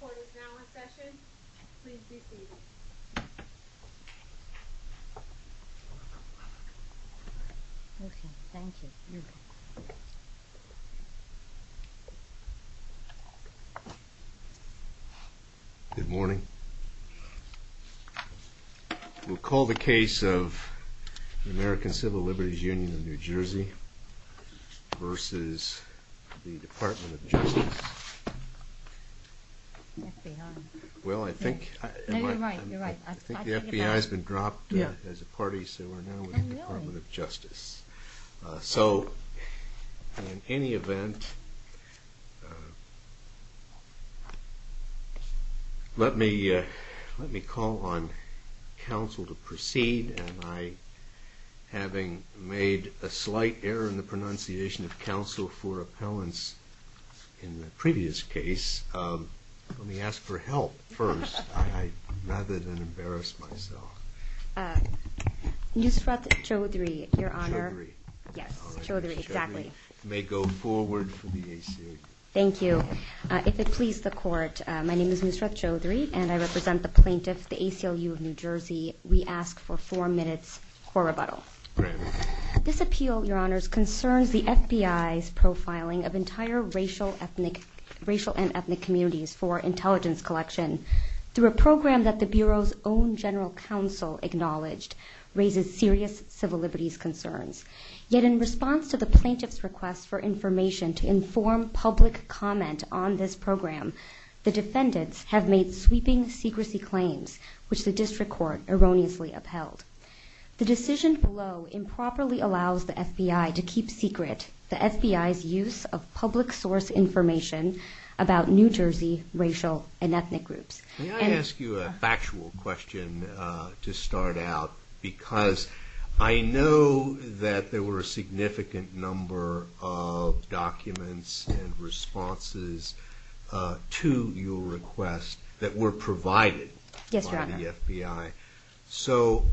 The court is now in session. Please be seated. Okay, thank you. Good morning. We'll call the case of the American Civil Liberties Union of New Jersey versus the Department of Justice. Well, I think the FBI has been dropped as a party, so we're now with the Department of Justice. So, in any event, let me call on counsel to proceed and I, having made a slight error in the pronunciation of counsel for appellants in the previous case, let me ask for help first. I'd rather than embarrass myself. Nusrat Chowdhury, Your Honor. Yes, Chowdhury, exactly. Thank you. If it please the court, my name is Nusrat Chowdhury and I represent the plaintiff, the ACLU of New Jersey. We ask for four minutes for rebuttal. This appeal, Your Honors, concerns the entire racial and ethnic communities for intelligence collection through a program that the Bureau's own general counsel acknowledged raises serious civil liberties concerns. Yet in response to the plaintiff's request for information to inform public comment on this program, the defendants have made sweeping secrecy claims, which the district court erroneously upheld. The decision below improperly allows the FBI to keep secret the FBI's use of public source information about New Jersey racial and ethnic groups. May I ask you a factual question to start out? Because I know that there were a significant number of documents and responses to your request that were provided by the FBI. Yes, Your Honor. So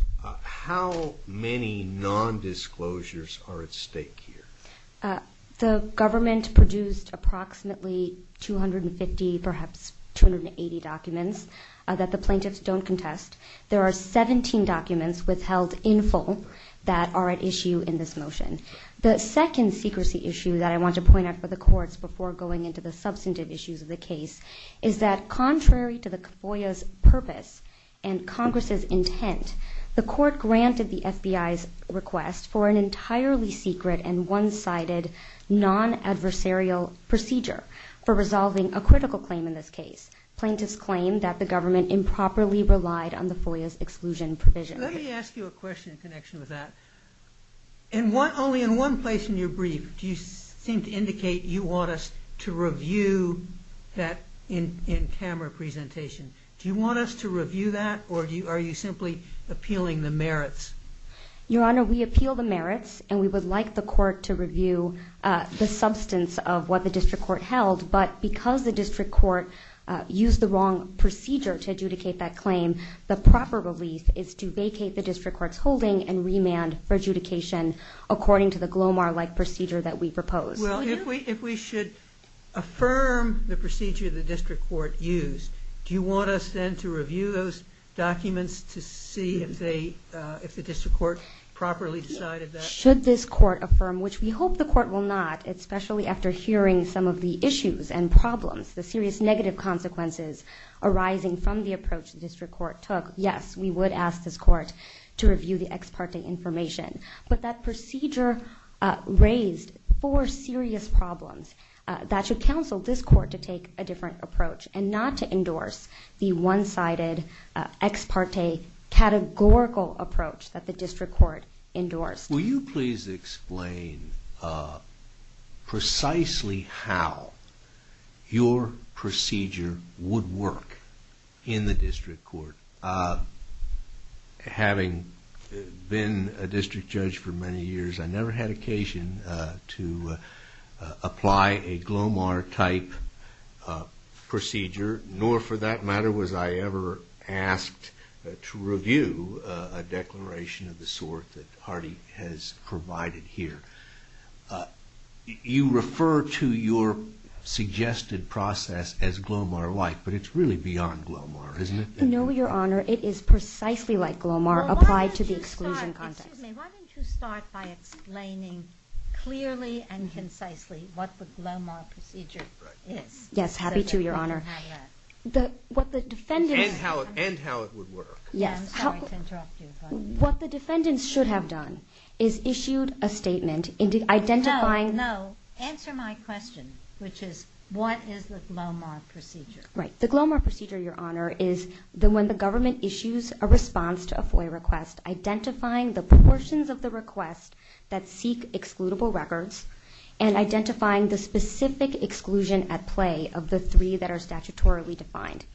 how many nondisclosures are at stake here? The government produced approximately 250, perhaps 280 documents that the plaintiffs don't contest. There are 17 documents withheld in full that are at issue in this motion. The second secrecy issue that I want to point out for the courts before going into the substantive issues of the case is that contrary to the FOIA's purpose and Congress's intent, the court granted the FBI's request for an entirely secret and one-sided non- adversarial procedure for resolving a critical claim in this case. Plaintiffs claim that the government improperly relied on the FOIA's exclusion provision. Let me ask you a question in connection with that. Only in one place in your brief do you seem to indicate you want us to review that in-camera presentation. Do you want us to review that or are you simply appealing the merits? Your Honor, we appeal the merits and we would like the court to review the substance of what the district court held, but because the district court used the wrong procedure to adjudicate that claim, the proper relief is to vacate the district court's holding and remand for adjudication according to the Glomar-like procedure that we proposed. Well, if we should affirm the procedure the district court used, do you want us then to review those documents to see if the district court properly decided that? Should this court affirm, which we hope the court will not, especially after hearing some of the issues and problems, the serious negative consequences arising from the approach the district court took, yes, we would ask this court to review the ex parte information, but that procedure raised four serious problems that should counsel this court to take a different approach and not to endorse the ex parte categorical approach that the district court endorsed. Will you please explain precisely how your procedure would work in the district court? Having been a district judge for many years, I never had occasion to apply a Glomar-type procedure, nor for that matter was I ever asked to review a declaration of the sort that Hardy has provided here. You refer to your suggested process as Glomar-like, but it's really beyond Glomar, isn't it? No, Your Honor, it is precisely like Glomar applied to the exclusion context. Why don't you start by explaining clearly and concisely what the Glomar procedure is? Yes, happy to, Your Honor. And how it would work. What the defendants should have done is issued a statement identifying... No, answer my question, which is, what is the Glomar procedure? Right, the Glomar procedure, Your Honor, is when the government issues a response to a FOIA request, identifying the proportions of the request that seek excludable records and identifying the specific exclusion at play of the three that are statutorily defined.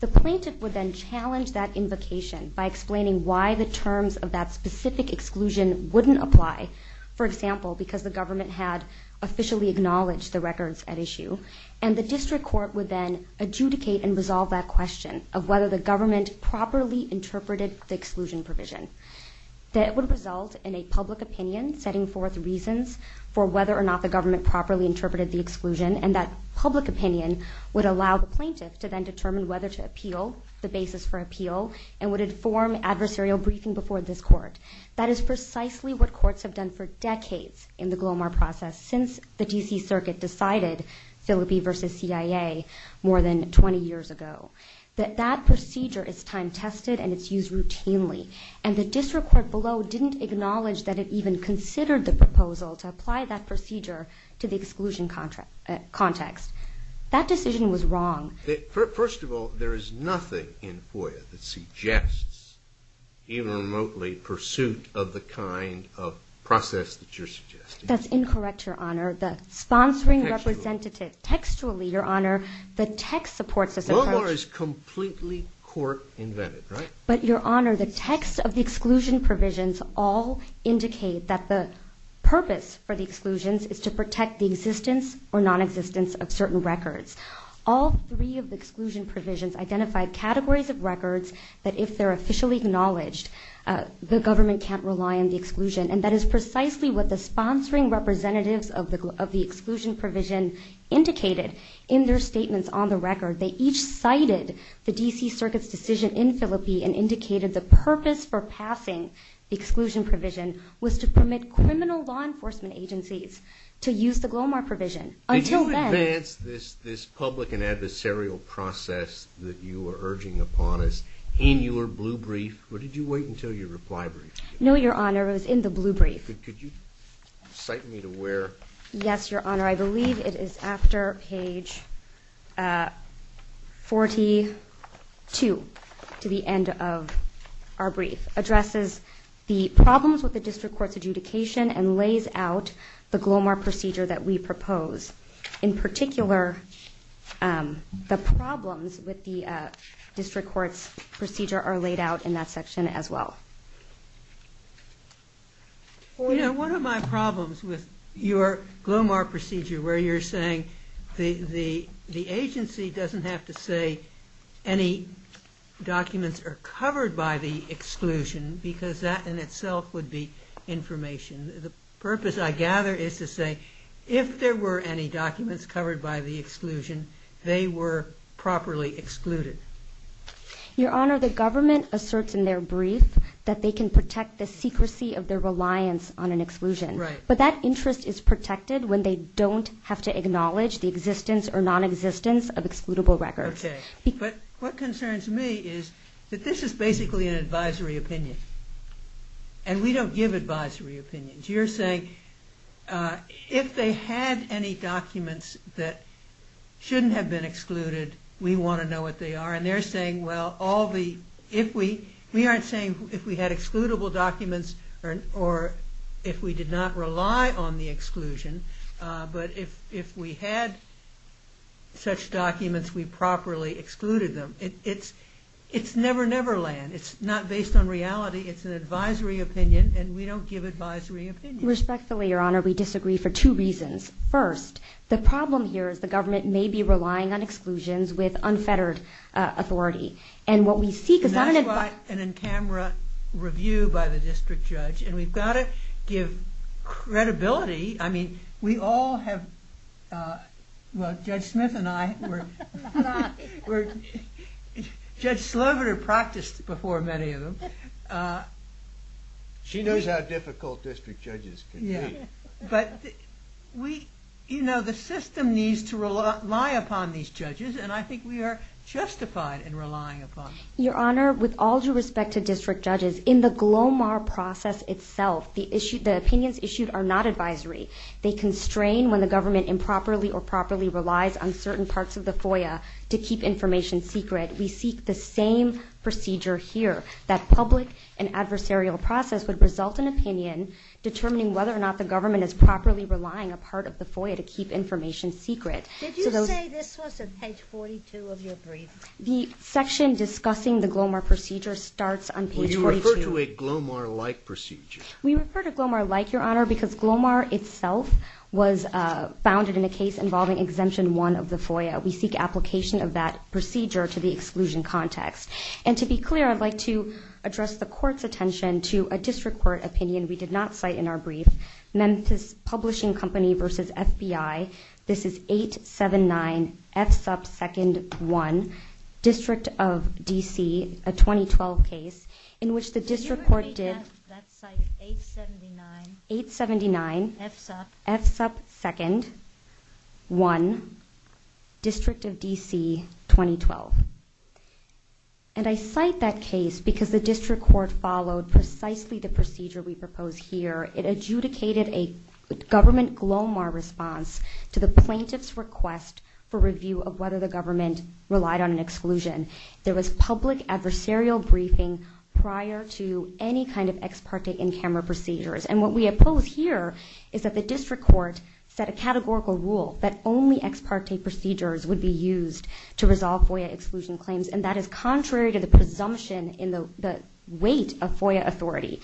The plaintiff would then challenge that invocation by explaining why the terms of that specific exclusion wouldn't apply, for example, because the government had officially acknowledged the records at issue, and the district court would then adjudicate and resolve that question of whether the government properly interpreted the exclusion provision. That would result and would inform adversarial briefing before this court. That is precisely what courts have done for decades in the Glomar process, since the D.C. Circuit decided, Phillipi v. CIA, more than 20 years ago. That that procedure is time-tested and it's used routinely. And the district court below didn't acknowledge that it even considered the proposal to apply that procedure to the Glomar case. That decision was wrong. First of all, there is nothing in FOIA that suggests even remotely pursuit of the kind of process that you're suggesting. That's incorrect, Your Honor. The sponsoring representative textually, Your Honor, the text supports this approach. Glomar is completely court-invented, right? But Your Honor, the text of the exclusion provisions all indicate that the purpose for the exclusions is to protect the existence or nonexistence of certain records. All three of the exclusion provisions identify categories of records that if they're officially acknowledged, the government can't rely on the exclusion. And that is precisely what the sponsoring representatives of the exclusion provision indicated in their statements on the record. They each cited the D.C. Circuit's decision in Phillipi and indicated the purpose for passing the exclusion provision was to permit criminal law enforcement agencies to use the Glomar provision. Until then... Did you advance this public and adversarial process that you are urging upon us in your blue brief or did you wait until your reply brief? No, Your Honor, it was in the blue brief. Could you cite me to where... Yes, Your Honor, I believe it is after page 42 to the end of our brief. Addresses the problems with the district court's adjudication and lays out the Glomar procedure that we propose. In particular, the problems with the district court's procedure are laid out in that section as well. You know, one of my problems with your Glomar procedure where you're saying the agency doesn't have to say any documents are covered by the exclusion because that in itself would be information. The purpose, I gather, is to say if there were any documents covered by the exclusion, they were properly excluded. Your Honor, the government asserts in their brief that they can protect the secrecy of their reliance on an exclusion. But that interest is protected when they don't have to acknowledge the existence or non-existence of excludable records. Okay, but what concerns me is that this is basically an advisory opinion. And we don't give advisory opinions. You're saying if they had any documents that shouldn't have been excluded, we want to know what they are. And they're saying, well, all the... We aren't saying if we had excludable documents or if we did not rely on the exclusion, but if we had such documents, we would have properly excluded them. It's never, never land. It's not based on reality. It's an advisory opinion, and we don't give advisory opinions. Respectfully, Your Honor, we disagree for two reasons. First, the problem here is the government may be relying on exclusions with unfettered authority. And what we seek is not an... That's why an in-camera review by the district judge. And we've got to give credibility. I mean, we all have... Well, Judge Smith and I were... Judge Slover practiced before many of them. She knows how difficult district judges can be. But we... You know, the system needs to rely upon these judges, and I think we are justified in relying upon them. Your Honor, with all due respect to district judges, in the GLOMAR process itself, the opinions issued are not advisory. They constrain when the government improperly or properly relies on certain parts of the FOIA to keep information secret. We seek the same procedure here. That public and adversarial process would result in opinion determining whether or not the government is properly relying a part of the FOIA to keep information secret. Did you say this was on page 42 of your brief? The section discussing the GLOMAR procedure starts on page 42. Well, you refer to a GLOMAR-like procedure. We refer to GLOMAR-like, Your Honor, because GLOMAR itself was founded in a case involving Exemption 1 of the FOIA. We seek application of that procedure to the exclusion context. And to be clear, I'd like to address the Court's attention to a district court opinion we did not cite in our brief, Memphis Publishing Company v. FBI. This is 879 F sub 2nd 1, District of D.C., a 2012 case, in which the district court did... 879 F sub 2nd 1, District of D.C., 2012. And I cite that case because the district court followed precisely the procedure we propose here. It adjudicated a government GLOMAR response to the plaintiff's request for review of whether the government relied on an exclusion. There was public adversarial briefing prior to any kind of ex parte in-camera procedures. And what we oppose here is that the district court set a categorical rule that only ex parte procedures would be used to resolve FOIA exclusion claims. And that is contrary to the presumption in the weight of FOIA authority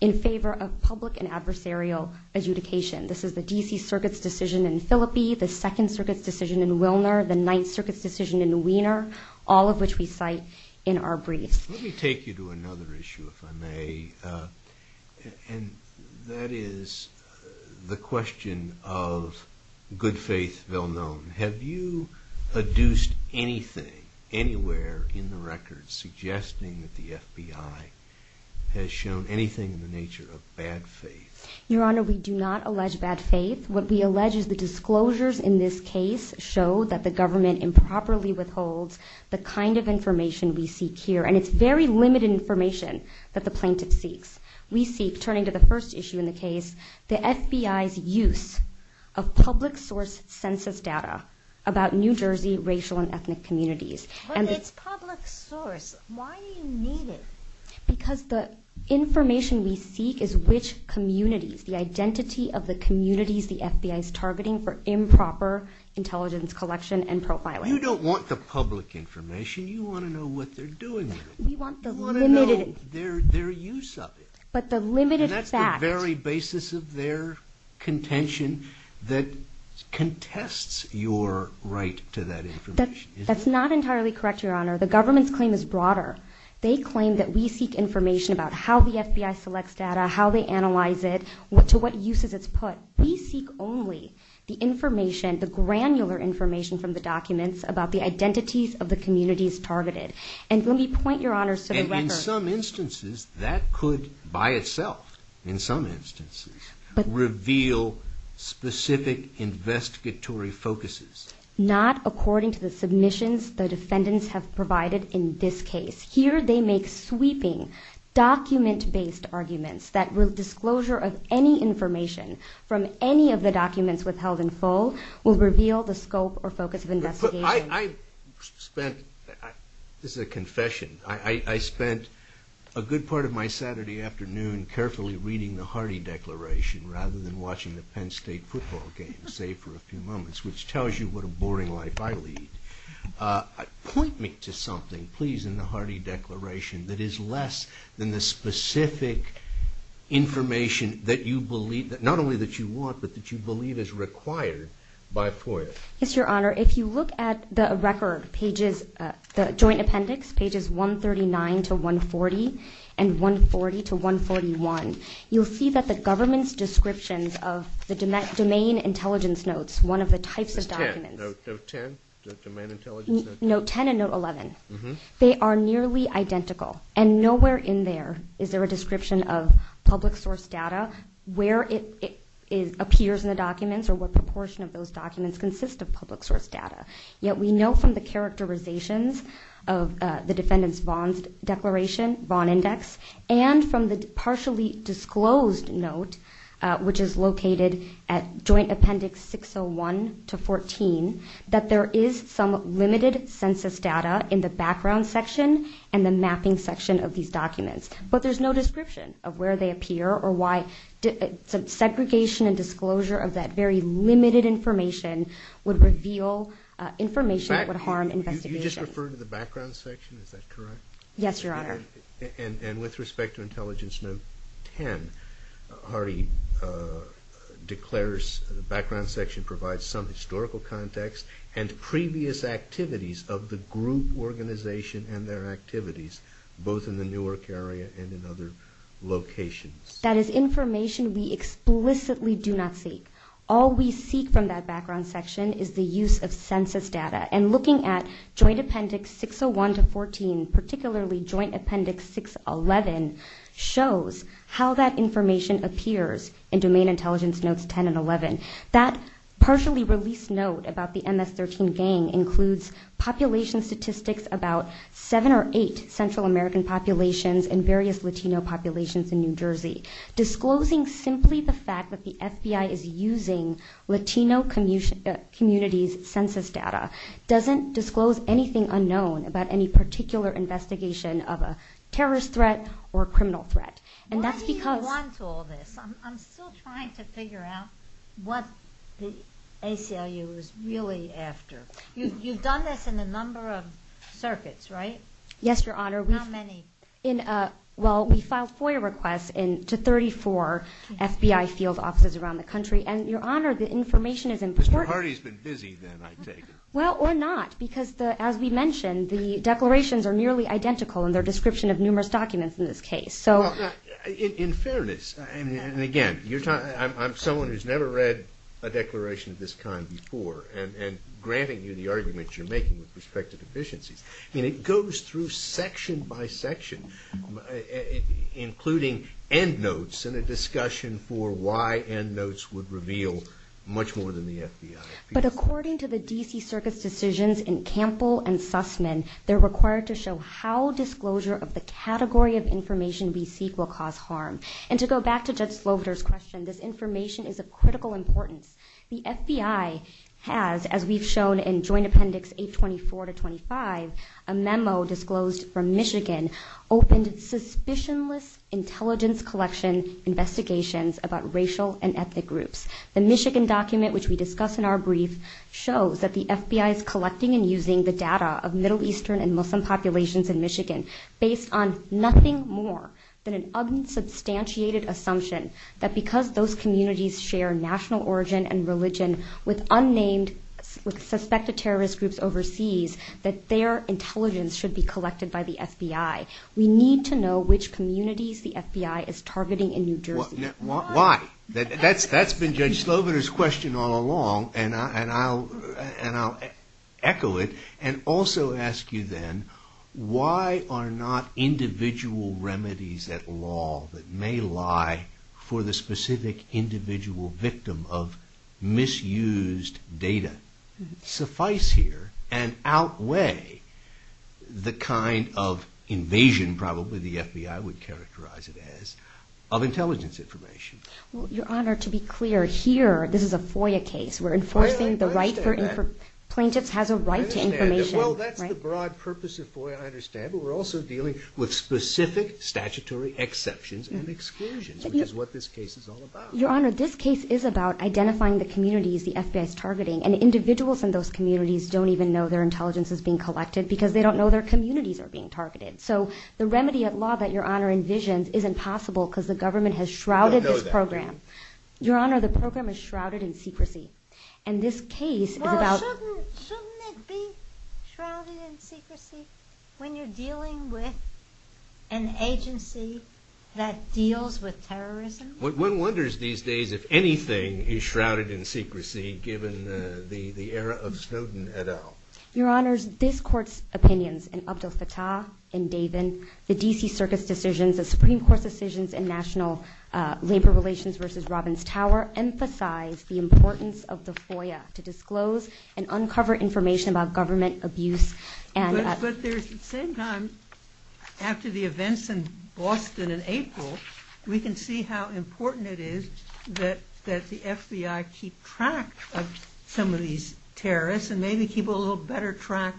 in favor of public and adversarial adjudication. This is the D.C. Circuit's decision in Phillipi, the 2nd Circuit's decision in Wilner, the 9th Circuit's decision in Wiener, all of which we cite in our brief. Let me take you to another issue, if I may. And that is the question of good faith, well known. Have you adduced anything anywhere in the records suggesting that the FBI has shown anything in the nature of bad faith? Your Honor, we do not allege bad faith. What we allege is the disclosures in this case show that the government improperly withholds the kind of information we seek here. And it's very limited information that the plaintiff seeks. We seek, turning to the first issue in the case, the FBI's use of public source census data about New Jersey racial and ethnic communities. But it's public source. Why do you need it? Because the information we seek is which communities, the identity of the communities the FBI is targeting for improper intelligence collection and profiling. You don't want the public information. You want to know what they're doing with it. You want to know their use of it. And that's the very basis of their contention that contests your right to that information. That's not entirely correct, Your Honor. The government's claim is broader. They claim that we seek information about how the FBI selects data, how they analyze it, to what uses it's put. We seek only the information, the evidence, about the identities of the communities targeted. And let me point, Your Honor, to the record... And in some instances, that could by itself, in some instances, reveal specific investigatory focuses. Not according to the submissions the defendants have provided in this case. Here they make sweeping document-based arguments that disclosure of any information from any of the documents withheld in full will reveal the scope or focus of investigation. This is a confession. I spent a good part of my Saturday afternoon carefully reading the Hardy Declaration rather than watching the Penn State football game, save for a few moments, which tells you what a boring life I lead. Point me to something, please, in the Hardy Declaration that is less than the specific information that you believe, not only that you want, but that you believe. Yes, Your Honor, if you look at the record pages, the joint appendix, pages 139 to 140 and 140 to 141, you'll see that the government's descriptions of the domain intelligence notes, one of the types of documents... Note 10? The domain intelligence notes? Note 10 and note 11. They are nearly identical. And nowhere in there is there a description of public source data, where it appears in the documents consist of public source data. Yet we know from the characterizations of the defendant's Vaughn Declaration, Vaughn Index, and from the partially disclosed note, which is located at joint appendix 601 to 14, that there is some limited census data in the background section and the mapping section of these documents. But there's no description of where they appear or why...segregation and disclosure of that very limited information would reveal information that would harm investigation. You just referred to the background section, is that correct? Yes, Your Honor. And with respect to intelligence note 10, Hardy declares the background section provides some historical context and previous activities of the group organization and their activities, both in the Newark area and in other locations. That is information we explicitly do not seek. All we seek from that background section is the use of census data. And looking at joint appendix 601 to 14, particularly joint appendix 611, shows how that information appears in domain intelligence notes 10 and 11. That partially released note about the MS-13 gang includes population statistics about seven or eight Central American populations and various Latino populations in New Jersey. Disclosing simply the fact that the FBI is using Latino communities' census data doesn't disclose anything unknown about any particular investigation of a terrorist threat or criminal threat. And that's because... Why do you want all this? I'm still trying to figure out what the ACLU is really after. You've done this in a number of circuits, right? Yes, Your Honor. How many? Well, we filed FOIA requests to 34 FBI field offices around the country, and Your Honor, the information is important. Mr. Hardy's been busy then, I take it. Well, or not, because as we mentioned, the declarations are nearly identical in their description of numerous documents in this case. In fairness, and again, I'm someone who's never read a declaration of this kind before, and granting you the argument you're making with respect to deficiencies. I mean, it goes through section by section, including endnotes, and a discussion for why endnotes would reveal much more than the FBI. But according to the D.C. Circuit's decisions in Campbell and Sussman, they're required to show how disclosure of the category of information we seek will cause harm. And to go back to Judge Sloviter's question, this information is of critical importance. The FBI has, as we've shown in Joint Statement, a memo disclosed from Michigan, opened suspicionless intelligence collection investigations about racial and ethnic groups. The Michigan document, which we discuss in our brief, shows that the FBI is collecting and using the data of Middle Eastern and Muslim populations in Michigan based on nothing more than an unsubstantiated assumption that because those communities share national origin and religion with unnamed, with suspected terrorist groups overseas, that their intelligence should be collected by the FBI. We need to know which communities the FBI is targeting in New Jersey. Why? That's been Judge Sloviter's question all along, and I'll echo it, and also ask you then, why are not individual remedies at law that may lie for the specific individual victim of misused data suffice here and outweigh the kind of invasion, probably the FBI would characterize it as, of intelligence information? Well, Your Honor, to be clear, here, this is a FOIA case. We're enforcing the right for plaintiffs has a right to information. Well, that's the broad purpose of FOIA, I understand, but we're also dealing with specific statutory exceptions and exclusions, which is what this case is all about. Your Honor, this case is about identifying the communities the FBI is targeting, and individuals in those communities don't even know their intelligence is being collected because they don't know their communities are being targeted. So the remedy at law that Your Honor envisions isn't possible because the government has shrouded this program. Your Honor, the program is shrouded in secrecy. And this case is about... Well, shouldn't it be shrouded in secrecy when you're dealing with an agency that deals with terrorism? One wonders these days if anything is shrouded in secrecy given the era of Snowden et al. Your Honor, this Court's opinions in Abdelfattah and Davin, the D.C. Circuit's decisions, the Supreme Court's decisions in National Labor Relations v. Robbins Tower emphasize the importance of the FOIA to disclose and uncover information about government abuse and... But there's at the same time, after the events in Boston in April, we can see how important it is that the FBI keep track of some of these terrorists and maybe keep a little better track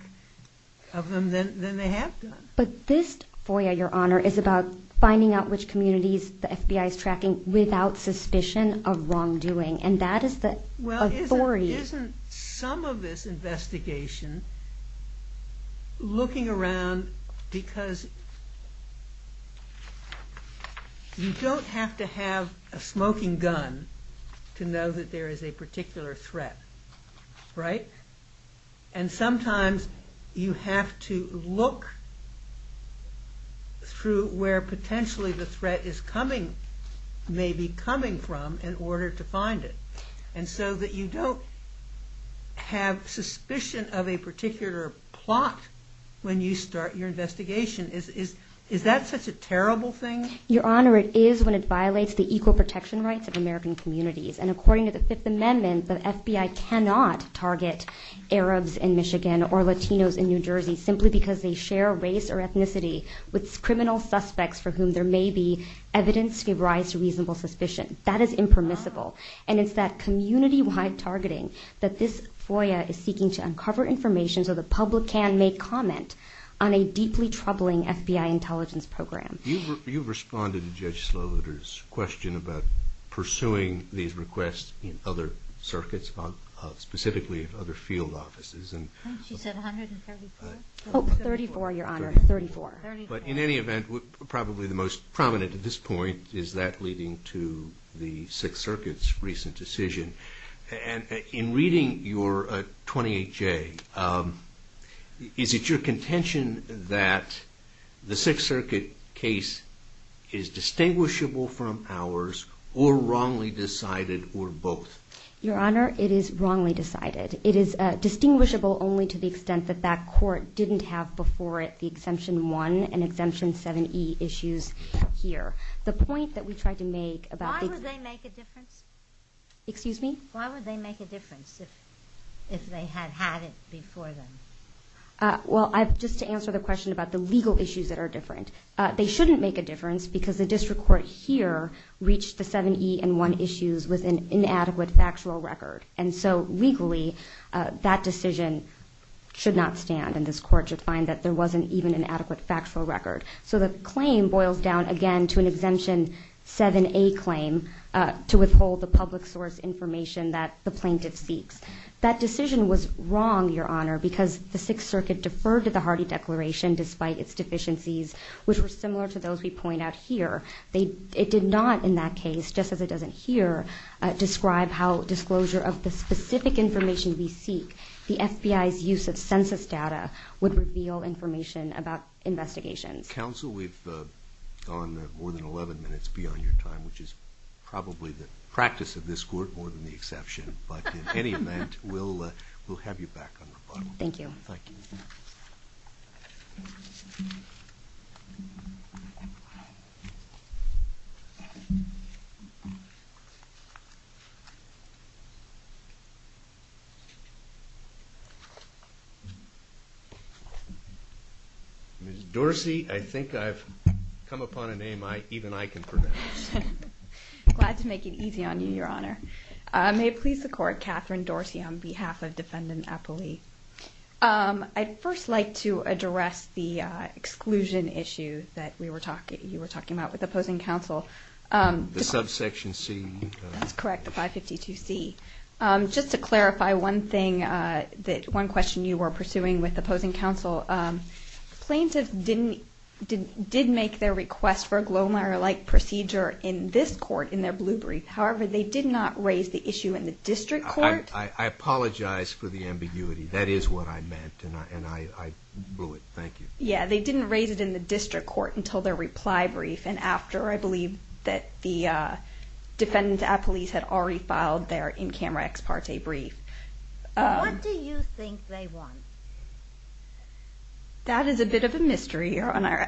of them than they have done. But this FOIA, Your Honor, is about finding out which communities the FBI is tracking without suspicion of wrongdoing, and that is the authority... Well, isn't some of this investigation looking around because you don't have to have a smoking gun to know that there is a particular threat, right? And sometimes you have to look through where potentially the threat is coming, maybe coming from in order to find it. And so that you don't have suspicion of a particular plot when you start your investigation. Is that such a terrible thing? Your Honor, it is when it violates the equal protection rights of American communities. And according to the Fifth Amendment, the FBI cannot target Arabs in Michigan or Latinos in New Jersey simply because they share race or ethnicity with criminal suspects for whom there may be evidence to give rise to reasonable suspicion. That is impermissible. And it's You've responded to Judge Slowiter's question about pursuing these requests in other circuits, specifically in other field offices. She said 134? Oh, 34, Your Honor, 34. But in any event, probably the most prominent at this point is that leading to the Sixth Circuit's recent decision. In reading your 28J, is it your contention that the Sixth Circuit case is distinguishable from ours or wrongly decided or both? Your Honor, it is wrongly decided. It is distinguishable only to the extent that that court didn't have before it the Exemption 1 and Exemption 7E issues here. The point that we tried to make about Why would they make a difference? Excuse me? Why would they make a difference if they had had it before then? Well, just to answer the question about the legal issues that are different, they shouldn't make a difference because the district court here reached the 7E and 1 issues with an inadequate factual record. And so legally that decision should not stand and this court should find that there wasn't even an adequate factual record. So the claim boils down again to an Exemption 7A claim to withhold the public source information that the plaintiff seeks. That decision was wrong, Your Honor, because the Sixth Circuit deferred to the Hardy Declaration despite its deficiencies which were similar to those we point out here. It did not in that case, just as it doesn't here, describe how disclosure of the specific information we seek, the FBI's use of census data, would reveal information about investigations. Counsel, we've gone more than 11 minutes beyond your time, which is probably the practice of this court more than the exception, but in any event, we'll have you back on rebuttal. Thank you. Ms. Dorsey, I think I've come upon a name even I can pronounce. Glad to make it easy on you, Your Honor. May it please the Court, Katherine Dorsey on behalf of Defendant Appley. I'd first like to address the exclusion issue that you were talking about with opposing counsel. The subsection C. That's correct, the 552C. Just to clarify one thing, one question you were pursuing with opposing counsel, plaintiffs did make their request for a glow-in-the-light procedure in this court in their blue brief. However, they did not raise the issue in the district court. I apologize for the ambiguity. That is what I meant, and I blew it. Thank you. Yeah, they didn't raise it in the district court until their reply brief and after, I believe, that the Defendant Appley's had already filed their in-camera ex parte brief. What do you think they want? That is a bit of a mystery, Your Honor.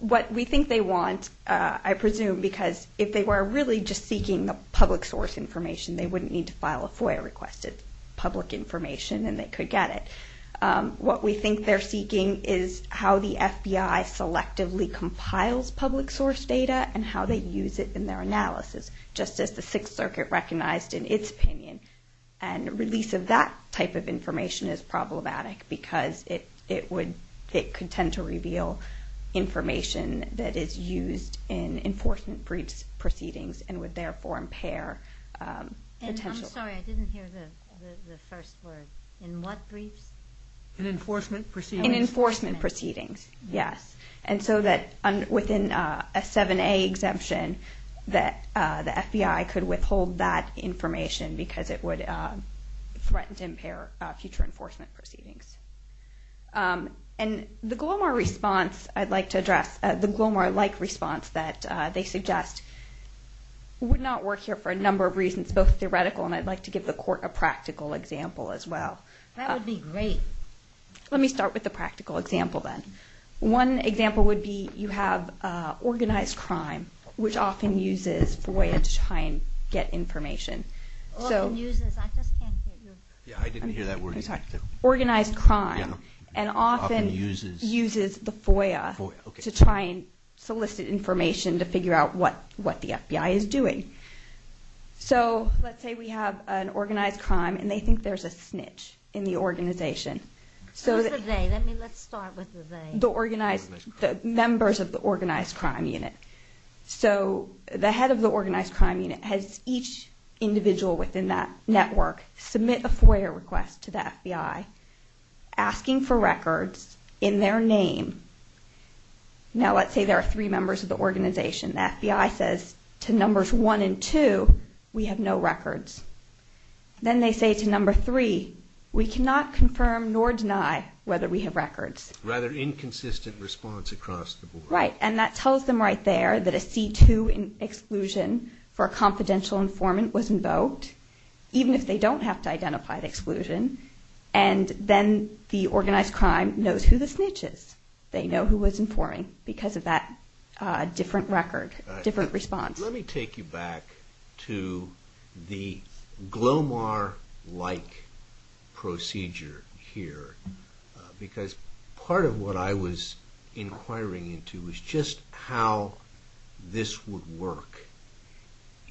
What we think they want, I presume, because if they were really just seeking the public source information, they wouldn't need to file a FOIA request. It's public information, and they could get it. What we think they're seeking is how the FBI selectively compiles public source data and how they use it in their analysis, just as the Sixth Circuit recognized in its opinion. Release of that type of information is problematic because it could tend to reveal information that is used in enforcement briefs proceedings and would therefore impair potential... And I'm sorry, I didn't hear the first word. In what briefs? In enforcement proceedings. In enforcement proceedings, yes. And so that within a 7A exemption that the FBI could withhold that information because it would threaten to impair future enforcement proceedings. And the Glomar response I'd like to address, the Glomar-like response that they suggest would not work here for a number of reasons, both theoretical and I'd like to give the Court a practical example as well. That would be great. Let me start with the practical example then. One example would be you have organized crime, which often uses FOIA to try and get information. I didn't hear that word. Organized crime and often uses the FOIA to try and solicit information to figure out what the FBI is doing. So let's say we have an organized crime and they think there's a snitch in the organization. Who's the they? Let's start with the they. The members of the organized crime unit. So the head of the organized crime unit has each individual within that network submit a FOIA request to the FBI asking for records in their name. Now let's say there are three members of the organization. The FBI says to numbers one and two, we have no records. Then they say to number three, we cannot confirm nor deny whether we have records. Rather inconsistent response across the board. Right. And that tells them right there that a C2 exclusion for a confidential informant was invoked. Even if they don't have to identify the exclusion. And then the organized crime knows who the snitch is. They know who was informing because of that different record. Different response. Let me take you back to the Glomar-like procedure here. Because part of what I was wondering was how this would work.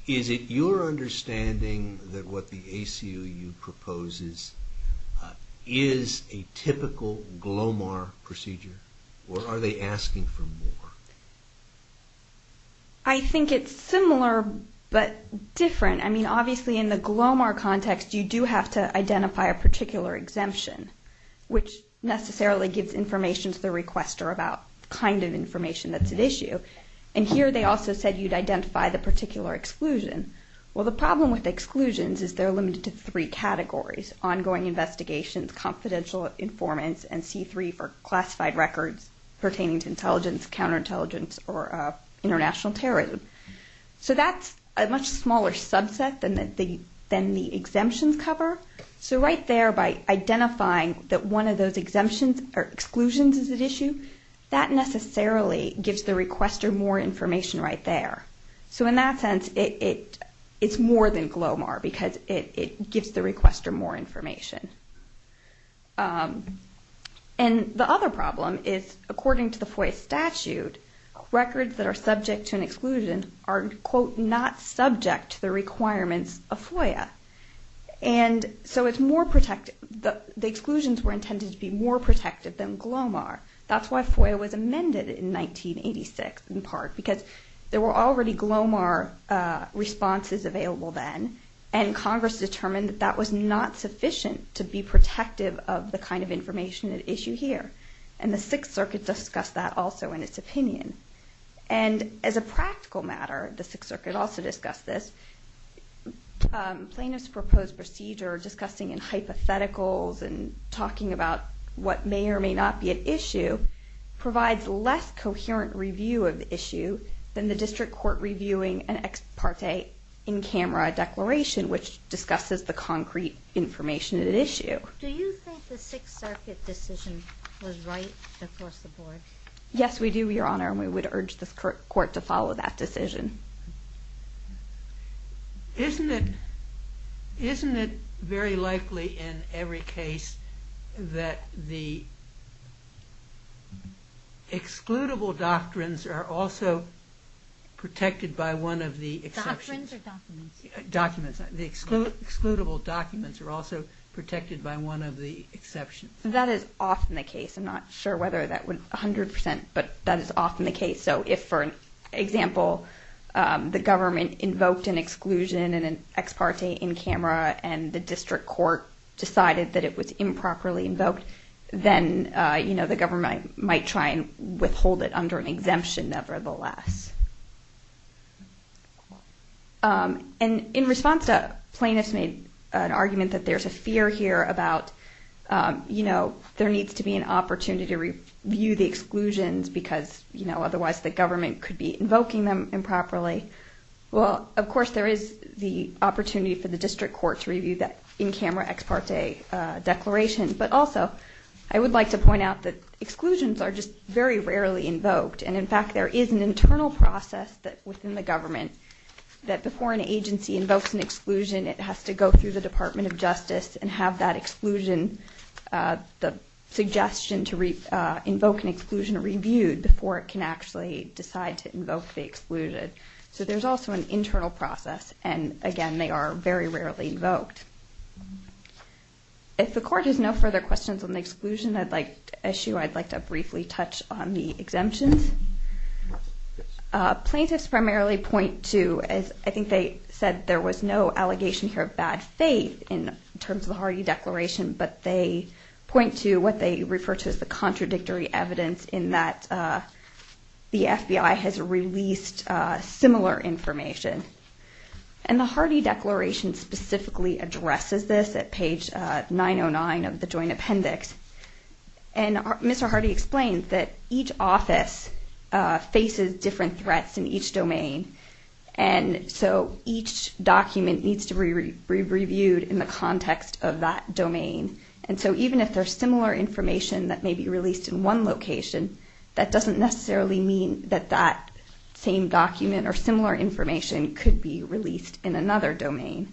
Is it your understanding that what the ACLU proposes is a typical Glomar procedure? Or are they asking for more? I think it's similar but different. I mean obviously in the Glomar context you do have to identify a particular exemption. Which necessarily gives information to the requester about the kind of information that's at issue. And here they also said you'd identify the particular exclusion. Well the problem with exclusions is they're limited to three categories. Ongoing investigations, confidential informants, and C3 for classified records pertaining to intelligence, counterintelligence, or international terrorism. So that's a much smaller subset than the exemptions cover. So right there by identifying that one of those exemptions or exclusions is at issue, that necessarily gives the requester more information right there. So in that sense it's more than Glomar because it gives the requester more information. And the other problem is according to the FOIA statute, records that are subject to an exclusion are quote not subject to the requirements of FOIA. And so it's more protected the exclusions were intended to be more protected than Glomar. That's why FOIA was amended in 1986 in part because there were already Glomar responses available then and Congress determined that that was not sufficient to be protective of the kind of information at issue here. And the Sixth Circuit discussed that also in its opinion. And as a practical matter the Sixth Circuit also discussed this. Plaintiff's proposed procedure discussing in hypotheticals and talking about what may or may not be at issue provides less coherent review of the issue than the district court reviewing an ex parte in camera declaration which discusses the concrete information at issue. Do you think the Sixth Circuit decision was right across the board? Yes we do Your Honor and we would urge the court to follow that decision. Isn't it very likely in every case that the excludable doctrines are also protected by one of the exceptions? Doctrines or documents? Documents. The excludable documents are also protected by one of the exceptions. That is often the case I'm not sure whether that would 100% but that is often the case so if for example the government invoked an exclusion and an ex parte in camera and the district court decided that it was improperly invoked then the government might try and withhold it under an exemption nevertheless. And in response to plaintiffs made an argument that there's a fear here about there needs to be an opportunity to review the exclusions because otherwise the government could be invoking them improperly well of course there is the opportunity for the district court to review that in camera ex parte declaration but also I would like to point out that exclusions are just very rarely invoked and in fact there is an internal process within the government that before an agency invokes an exclusion it has to go through the Department of Justice and have that exclusion, the suggestion to reviewed before it can actually decide to invoke the exclusion so there's also an internal process and again they are very rarely invoked. If the court has no further questions on the exclusion issue I'd like to briefly touch on the exemptions. Plaintiffs primarily point to I think they said there was no allegation here of bad faith in terms of the Hardy Declaration but they point to what they refer to as the contradictory evidence in that the FBI has released similar information and the Hardy Declaration specifically addresses this at page 909 of the Joint Appendix and Mr. Hardy explained that each office faces different threats in each domain and so each document needs to be reviewed in the context of that domain and so even if there's similar information that may be released in one location that doesn't necessarily mean that that same document or similar information could be released in another domain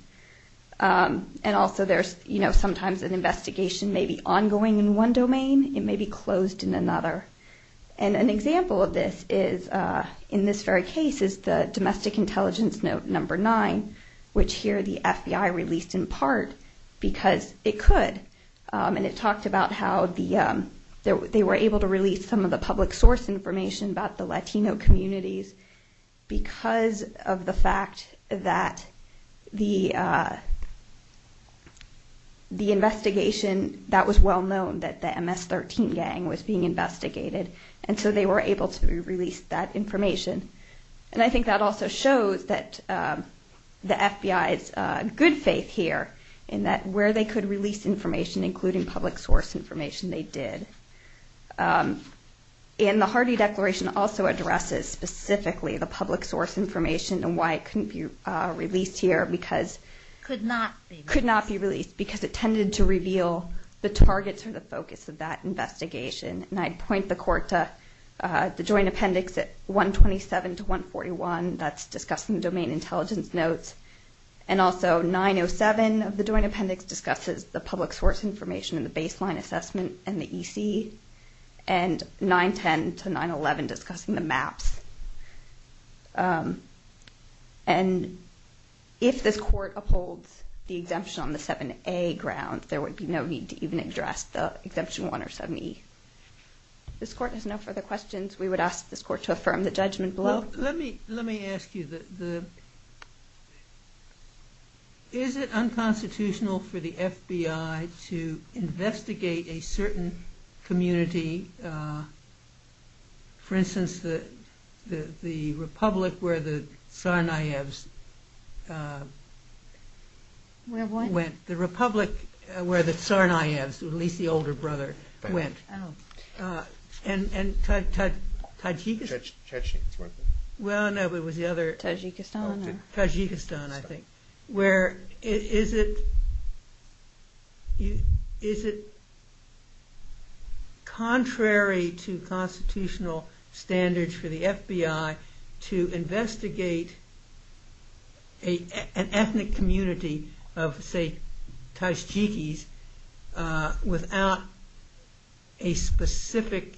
and also there's sometimes an investigation may be ongoing in one domain, it may be closed in another and an example of this is in this very case is the domestic intelligence note number 9 which here the FBI released in part because it could and it talked about how they were able to release some of the public source information about the Latino communities because of the fact that the investigation that was well known that the MS-13 gang was being investigated and so they were able to release that information and I think that also shows that the FBI's good faith here in that where they could release information including public source information they did and the Hardy Declaration also addresses specifically the public source information and why it couldn't be released here because it tended to reveal the targets or the focus of that investigation and I'd point the court to the Joint Appendix at 127 to 141 that's discussing domain intelligence notes and also 907 of the Joint Appendix discusses the public source information and the baseline assessment and the EC and 910 to 911 discussing the maps and if this court upholds the exemption on the 7A grounds there would be no need to even address the exemption 1 or 7E. This court has no further questions we would ask this court to affirm the judgment below. Let me ask you is it unconstitutional for the FBI to investigate a certain community for instance the republic where the Tsarnaevs went. The republic where the Tsarnaevs at least the older brother went. And Tajikistan Tajikistan I think where is it contrary to constitutional standards for the FBI to investigate an ethnic community of say Tajikis without a specific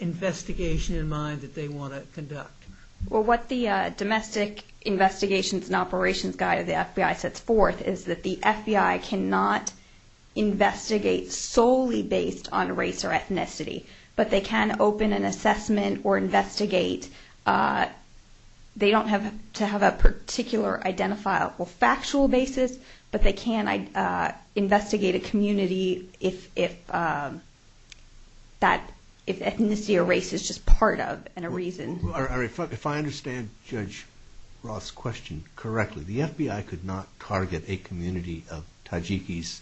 investigation in mind that they want to conduct? Well what the Domestic Investigations and Operations Guide of the FBI sets forth is that the FBI cannot investigate solely based on race or ethnicity but they can open an assessment or investigate they don't have to have a particular identifiable factual basis but they can investigate a community if ethnicity or race is just part of and a reason If I understand Judge Roth's question correctly the FBI could not target a community of Tajikis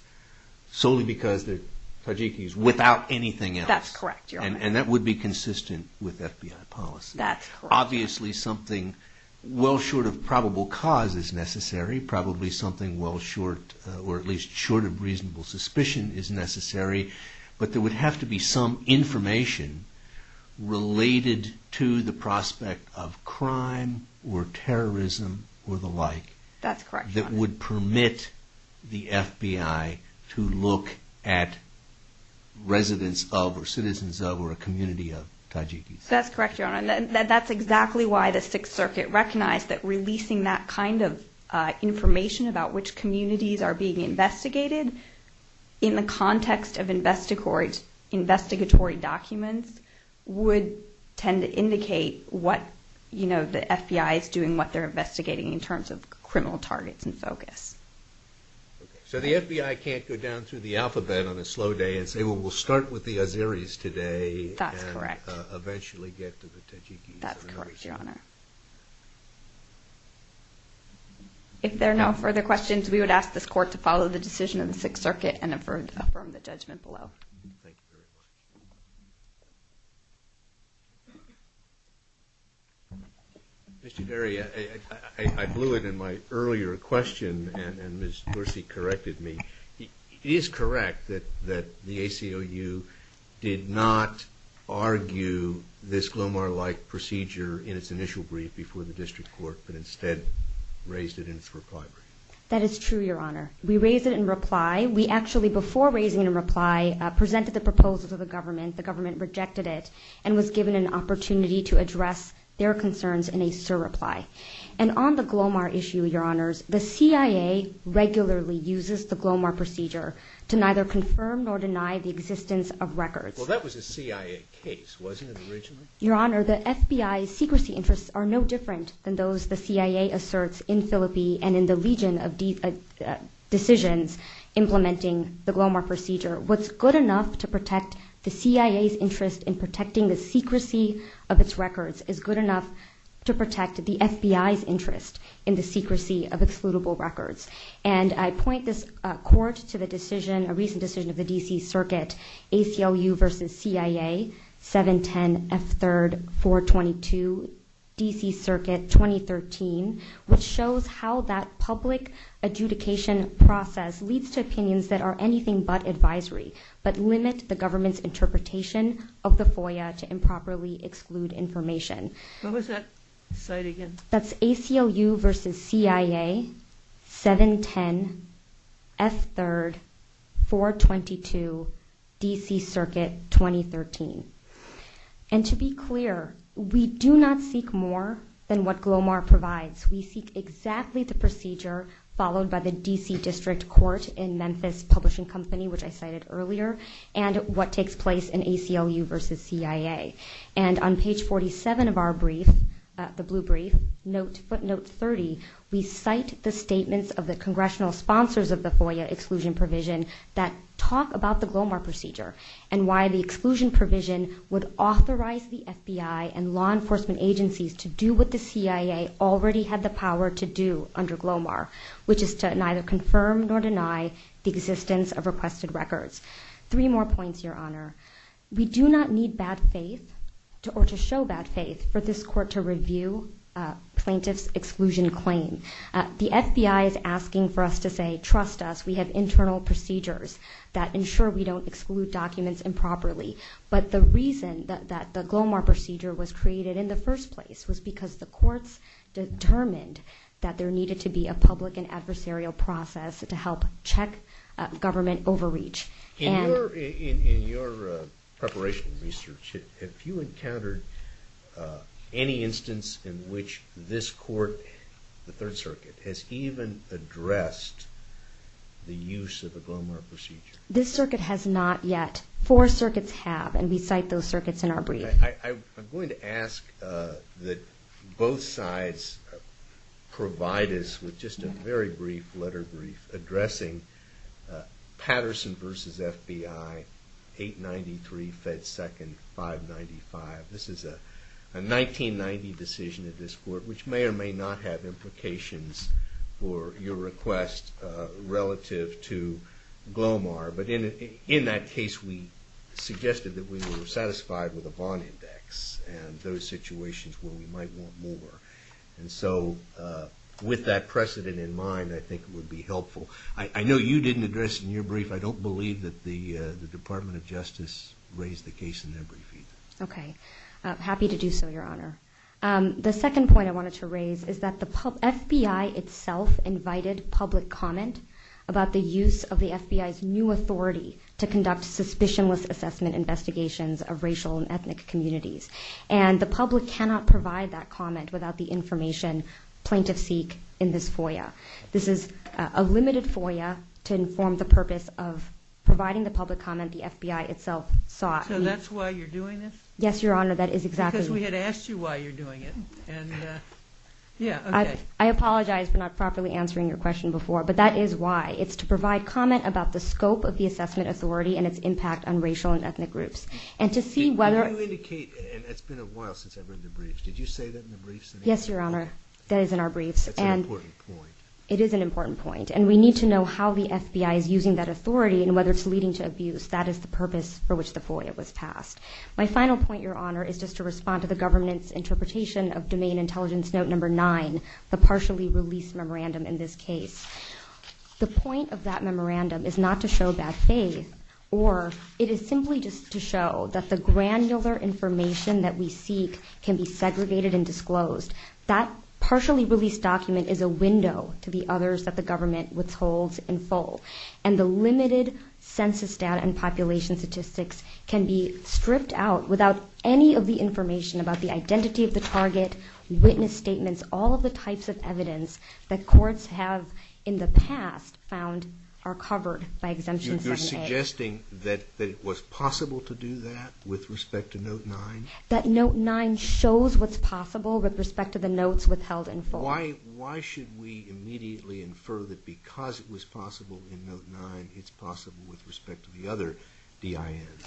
solely because they're Tajikis without anything else. That's correct And that would be consistent with FBI policy. That's correct. Obviously something well short of probable cause is necessary probably something well short or at least short of reasonable suspicion is necessary but there would have to be some information related to the prospect of crime or terrorism or the like. That's correct. That would permit the FBI to look at residents of or citizens of or a community of Tajikis That's correct Your Honor. That's exactly why the 6th Circuit recognized that information about which communities are being investigated in the context of investigatory documents would tend to indicate what the FBI is doing what they're investigating in terms of criminal targets and focus So the FBI can't go down through the alphabet on a slow day and say well we'll start with the Azeris today and eventually get to the Tajikis. That's correct Your Honor If there are no further questions we would ask this court to follow the decision of the 6th Circuit and affirm the judgment below. Thank you very much Mr. Derry I blew it in my earlier question and Ms. Dorsey corrected me. It is correct that the ACLU did not argue this before the District Court but instead raised it in its reply brief That is true Your Honor. We raised it in reply. We actually before raising it in reply presented the proposals of the government. The government rejected it and was given an opportunity to address their concerns in a sir reply And on the Glomar issue Your Honors, the CIA regularly uses the Glomar procedure to neither confirm nor deny the existence of records. Well that was a CIA case wasn't it originally? Your Honor, the FBI's secrecy interests are no different than those the CIA asserts in Philippi and in the legion of decisions implementing the Glomar procedure. What's good enough to protect the CIA's interest in protecting the secrecy of its records is good enough to protect the FBI's interest in the secrecy of excludable records. And I point this court to the decision, a recent decision of the DC Circuit, ACLU versus CIA 710 F3 422 DC Circuit 2013 which shows how that public adjudication process leads to opinions that are anything but advisory but limit the government's interpretation of the FOIA to improperly exclude information. What was that site again? That's ACLU versus CIA 710 F3 422 DC Circuit 2013. And to be clear, we do not seek more than what Glomar provides. We seek exactly the procedure followed by the DC District Court in Memphis Publishing Company which I cited earlier and what takes place in ACLU versus CIA. And on page 47 of our brief, the blue brief, footnote 30 we cite the statements of the congressional sponsors of the FOIA exclusion provision that talk about the Glomar procedure and why the exclusion provision would authorize the FBI and law enforcement agencies to do what the CIA already had the power to do under Glomar, which is to neither confirm nor deny the existence of requested records. Three more points, Your Honor. We do not need bad faith or to show bad faith for this court to review plaintiff's exclusion claim. The FBI is in charge of internal procedures that ensure we don't exclude documents improperly. But the reason that the Glomar procedure was created in the first place was because the courts determined that there needed to be a public and adversarial process to help check government overreach. In your preparation research, have you encountered any instance in which this court, the Third Circuit, has even addressed the use of the Glomar procedure? This circuit has not yet. Four circuits have, and we cite those circuits in our brief. I'm going to ask that both sides provide us with just a very brief letter brief addressing Patterson versus FBI 893 Fed Second 595. This is a 1990 decision of this court, which may or may not have implications for your request relative to Glomar. But in that case, we suggested that we were satisfied with the Vaughn Index and those situations where we might want more. And so with that precedent in mind, I think it would be helpful. I know you didn't address in your brief. I don't believe that the Department of Justice raised the case in their brief either. Okay. Happy to do so, Your Honor. The second point I wanted to raise is that the FBI itself invited public comment about the use of the FBI's new authority to conduct suspicionless assessment investigations of racial and ethnic communities. And the public cannot provide that comment without the information plaintiffs seek in this FOIA. This is a limited FOIA to inform the purpose of providing the public comment the FBI itself sought. So that's why you're doing this? Yes, Your Honor, that is exactly because we had asked you why you're doing it. I apologize for not properly answering your question before, but that is why. It's to provide comment about the scope of the assessment authority and its impact on racial and ethnic groups. And to see whether... It's been a while since I've written a brief. Did you say that in the briefs? Yes, Your Honor. That is in our briefs. That's an important point. It is an important point. And we need to know how the FBI is using that authority and whether it's leading to abuse. That is the purpose for which the FOIA was passed. My final point, Your Honor, is just to respond to the government's interpretation of Domain Intelligence Note Number 9, the partially released memorandum in this case. The point of that memorandum is not to show bad faith, or it is simply just to show that the granular information that we seek can be segregated and disclosed. That partially released document is a window to the others that the government withholds in full. And the limited census data and population statistics can be stripped out without any of the information about the identity of the target, witness statements, all of the types of evidence that courts have in the past found are covered by Exemption 7a. You're suggesting that it was possible to do that with respect to Note 9? That Note 9 shows what's possible with respect to the notes withheld in full. Why should we immediately infer that because it was possible in Note 9, it's possible with respect to the other DINs?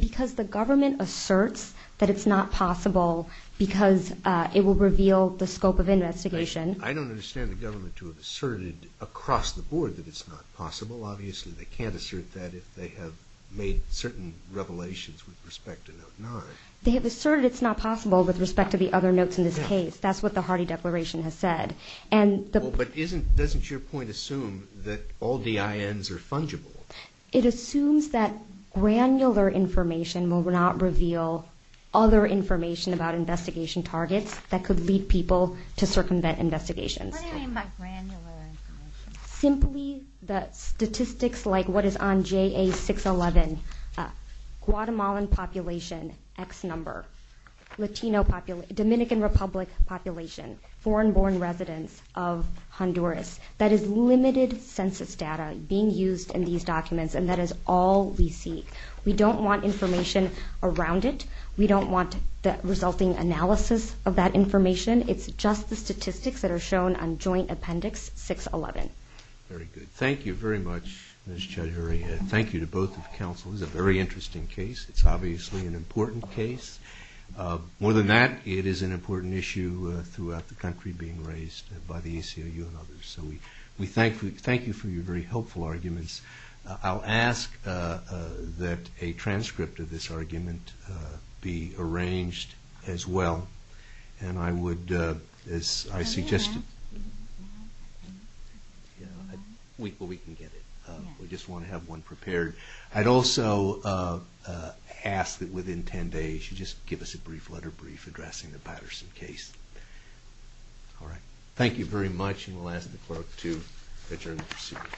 Because the government asserts that it's not possible because it will reveal the scope of investigation. I don't understand the government to have asserted across the board that it's not possible. Obviously they can't assert that if they have made certain revelations with respect to Note 9. They have asserted it's not possible with respect to the other notes in this case. That's what the Hardy Declaration has said. But doesn't your point assume that all DINs are fungible? It assumes that granular information will not reveal other information about investigation targets that could lead people to circumvent investigations. What do you mean by granular information? Simply that statistics like what is on JA-611, Guatemalan population, X number, Dominican Republic population, foreign born residents of Honduras. That is limited census data being used in these documents and that is all we see. We don't want information around it. We don't want the resulting analysis of that information. It's just the statistics that are shown on Joint Appendix 611. Very good. Thank you very much, Ms. Chaudhuri. Thank you to both of the counsels. It's a very interesting case. It's obviously an important case. More than that, it is an important issue throughout the country being raised by the ACLU and others. So we thank you for your very helpful arguments. I'll ask that a transcript of this argument be arranged as well. And I would, as I suggested... We can get it. We just want to have one prepared. I'd also ask that within ten days you just give us a brief letter brief addressing the Patterson case. Thank you very much. And we'll ask the clerk to adjourn the proceedings.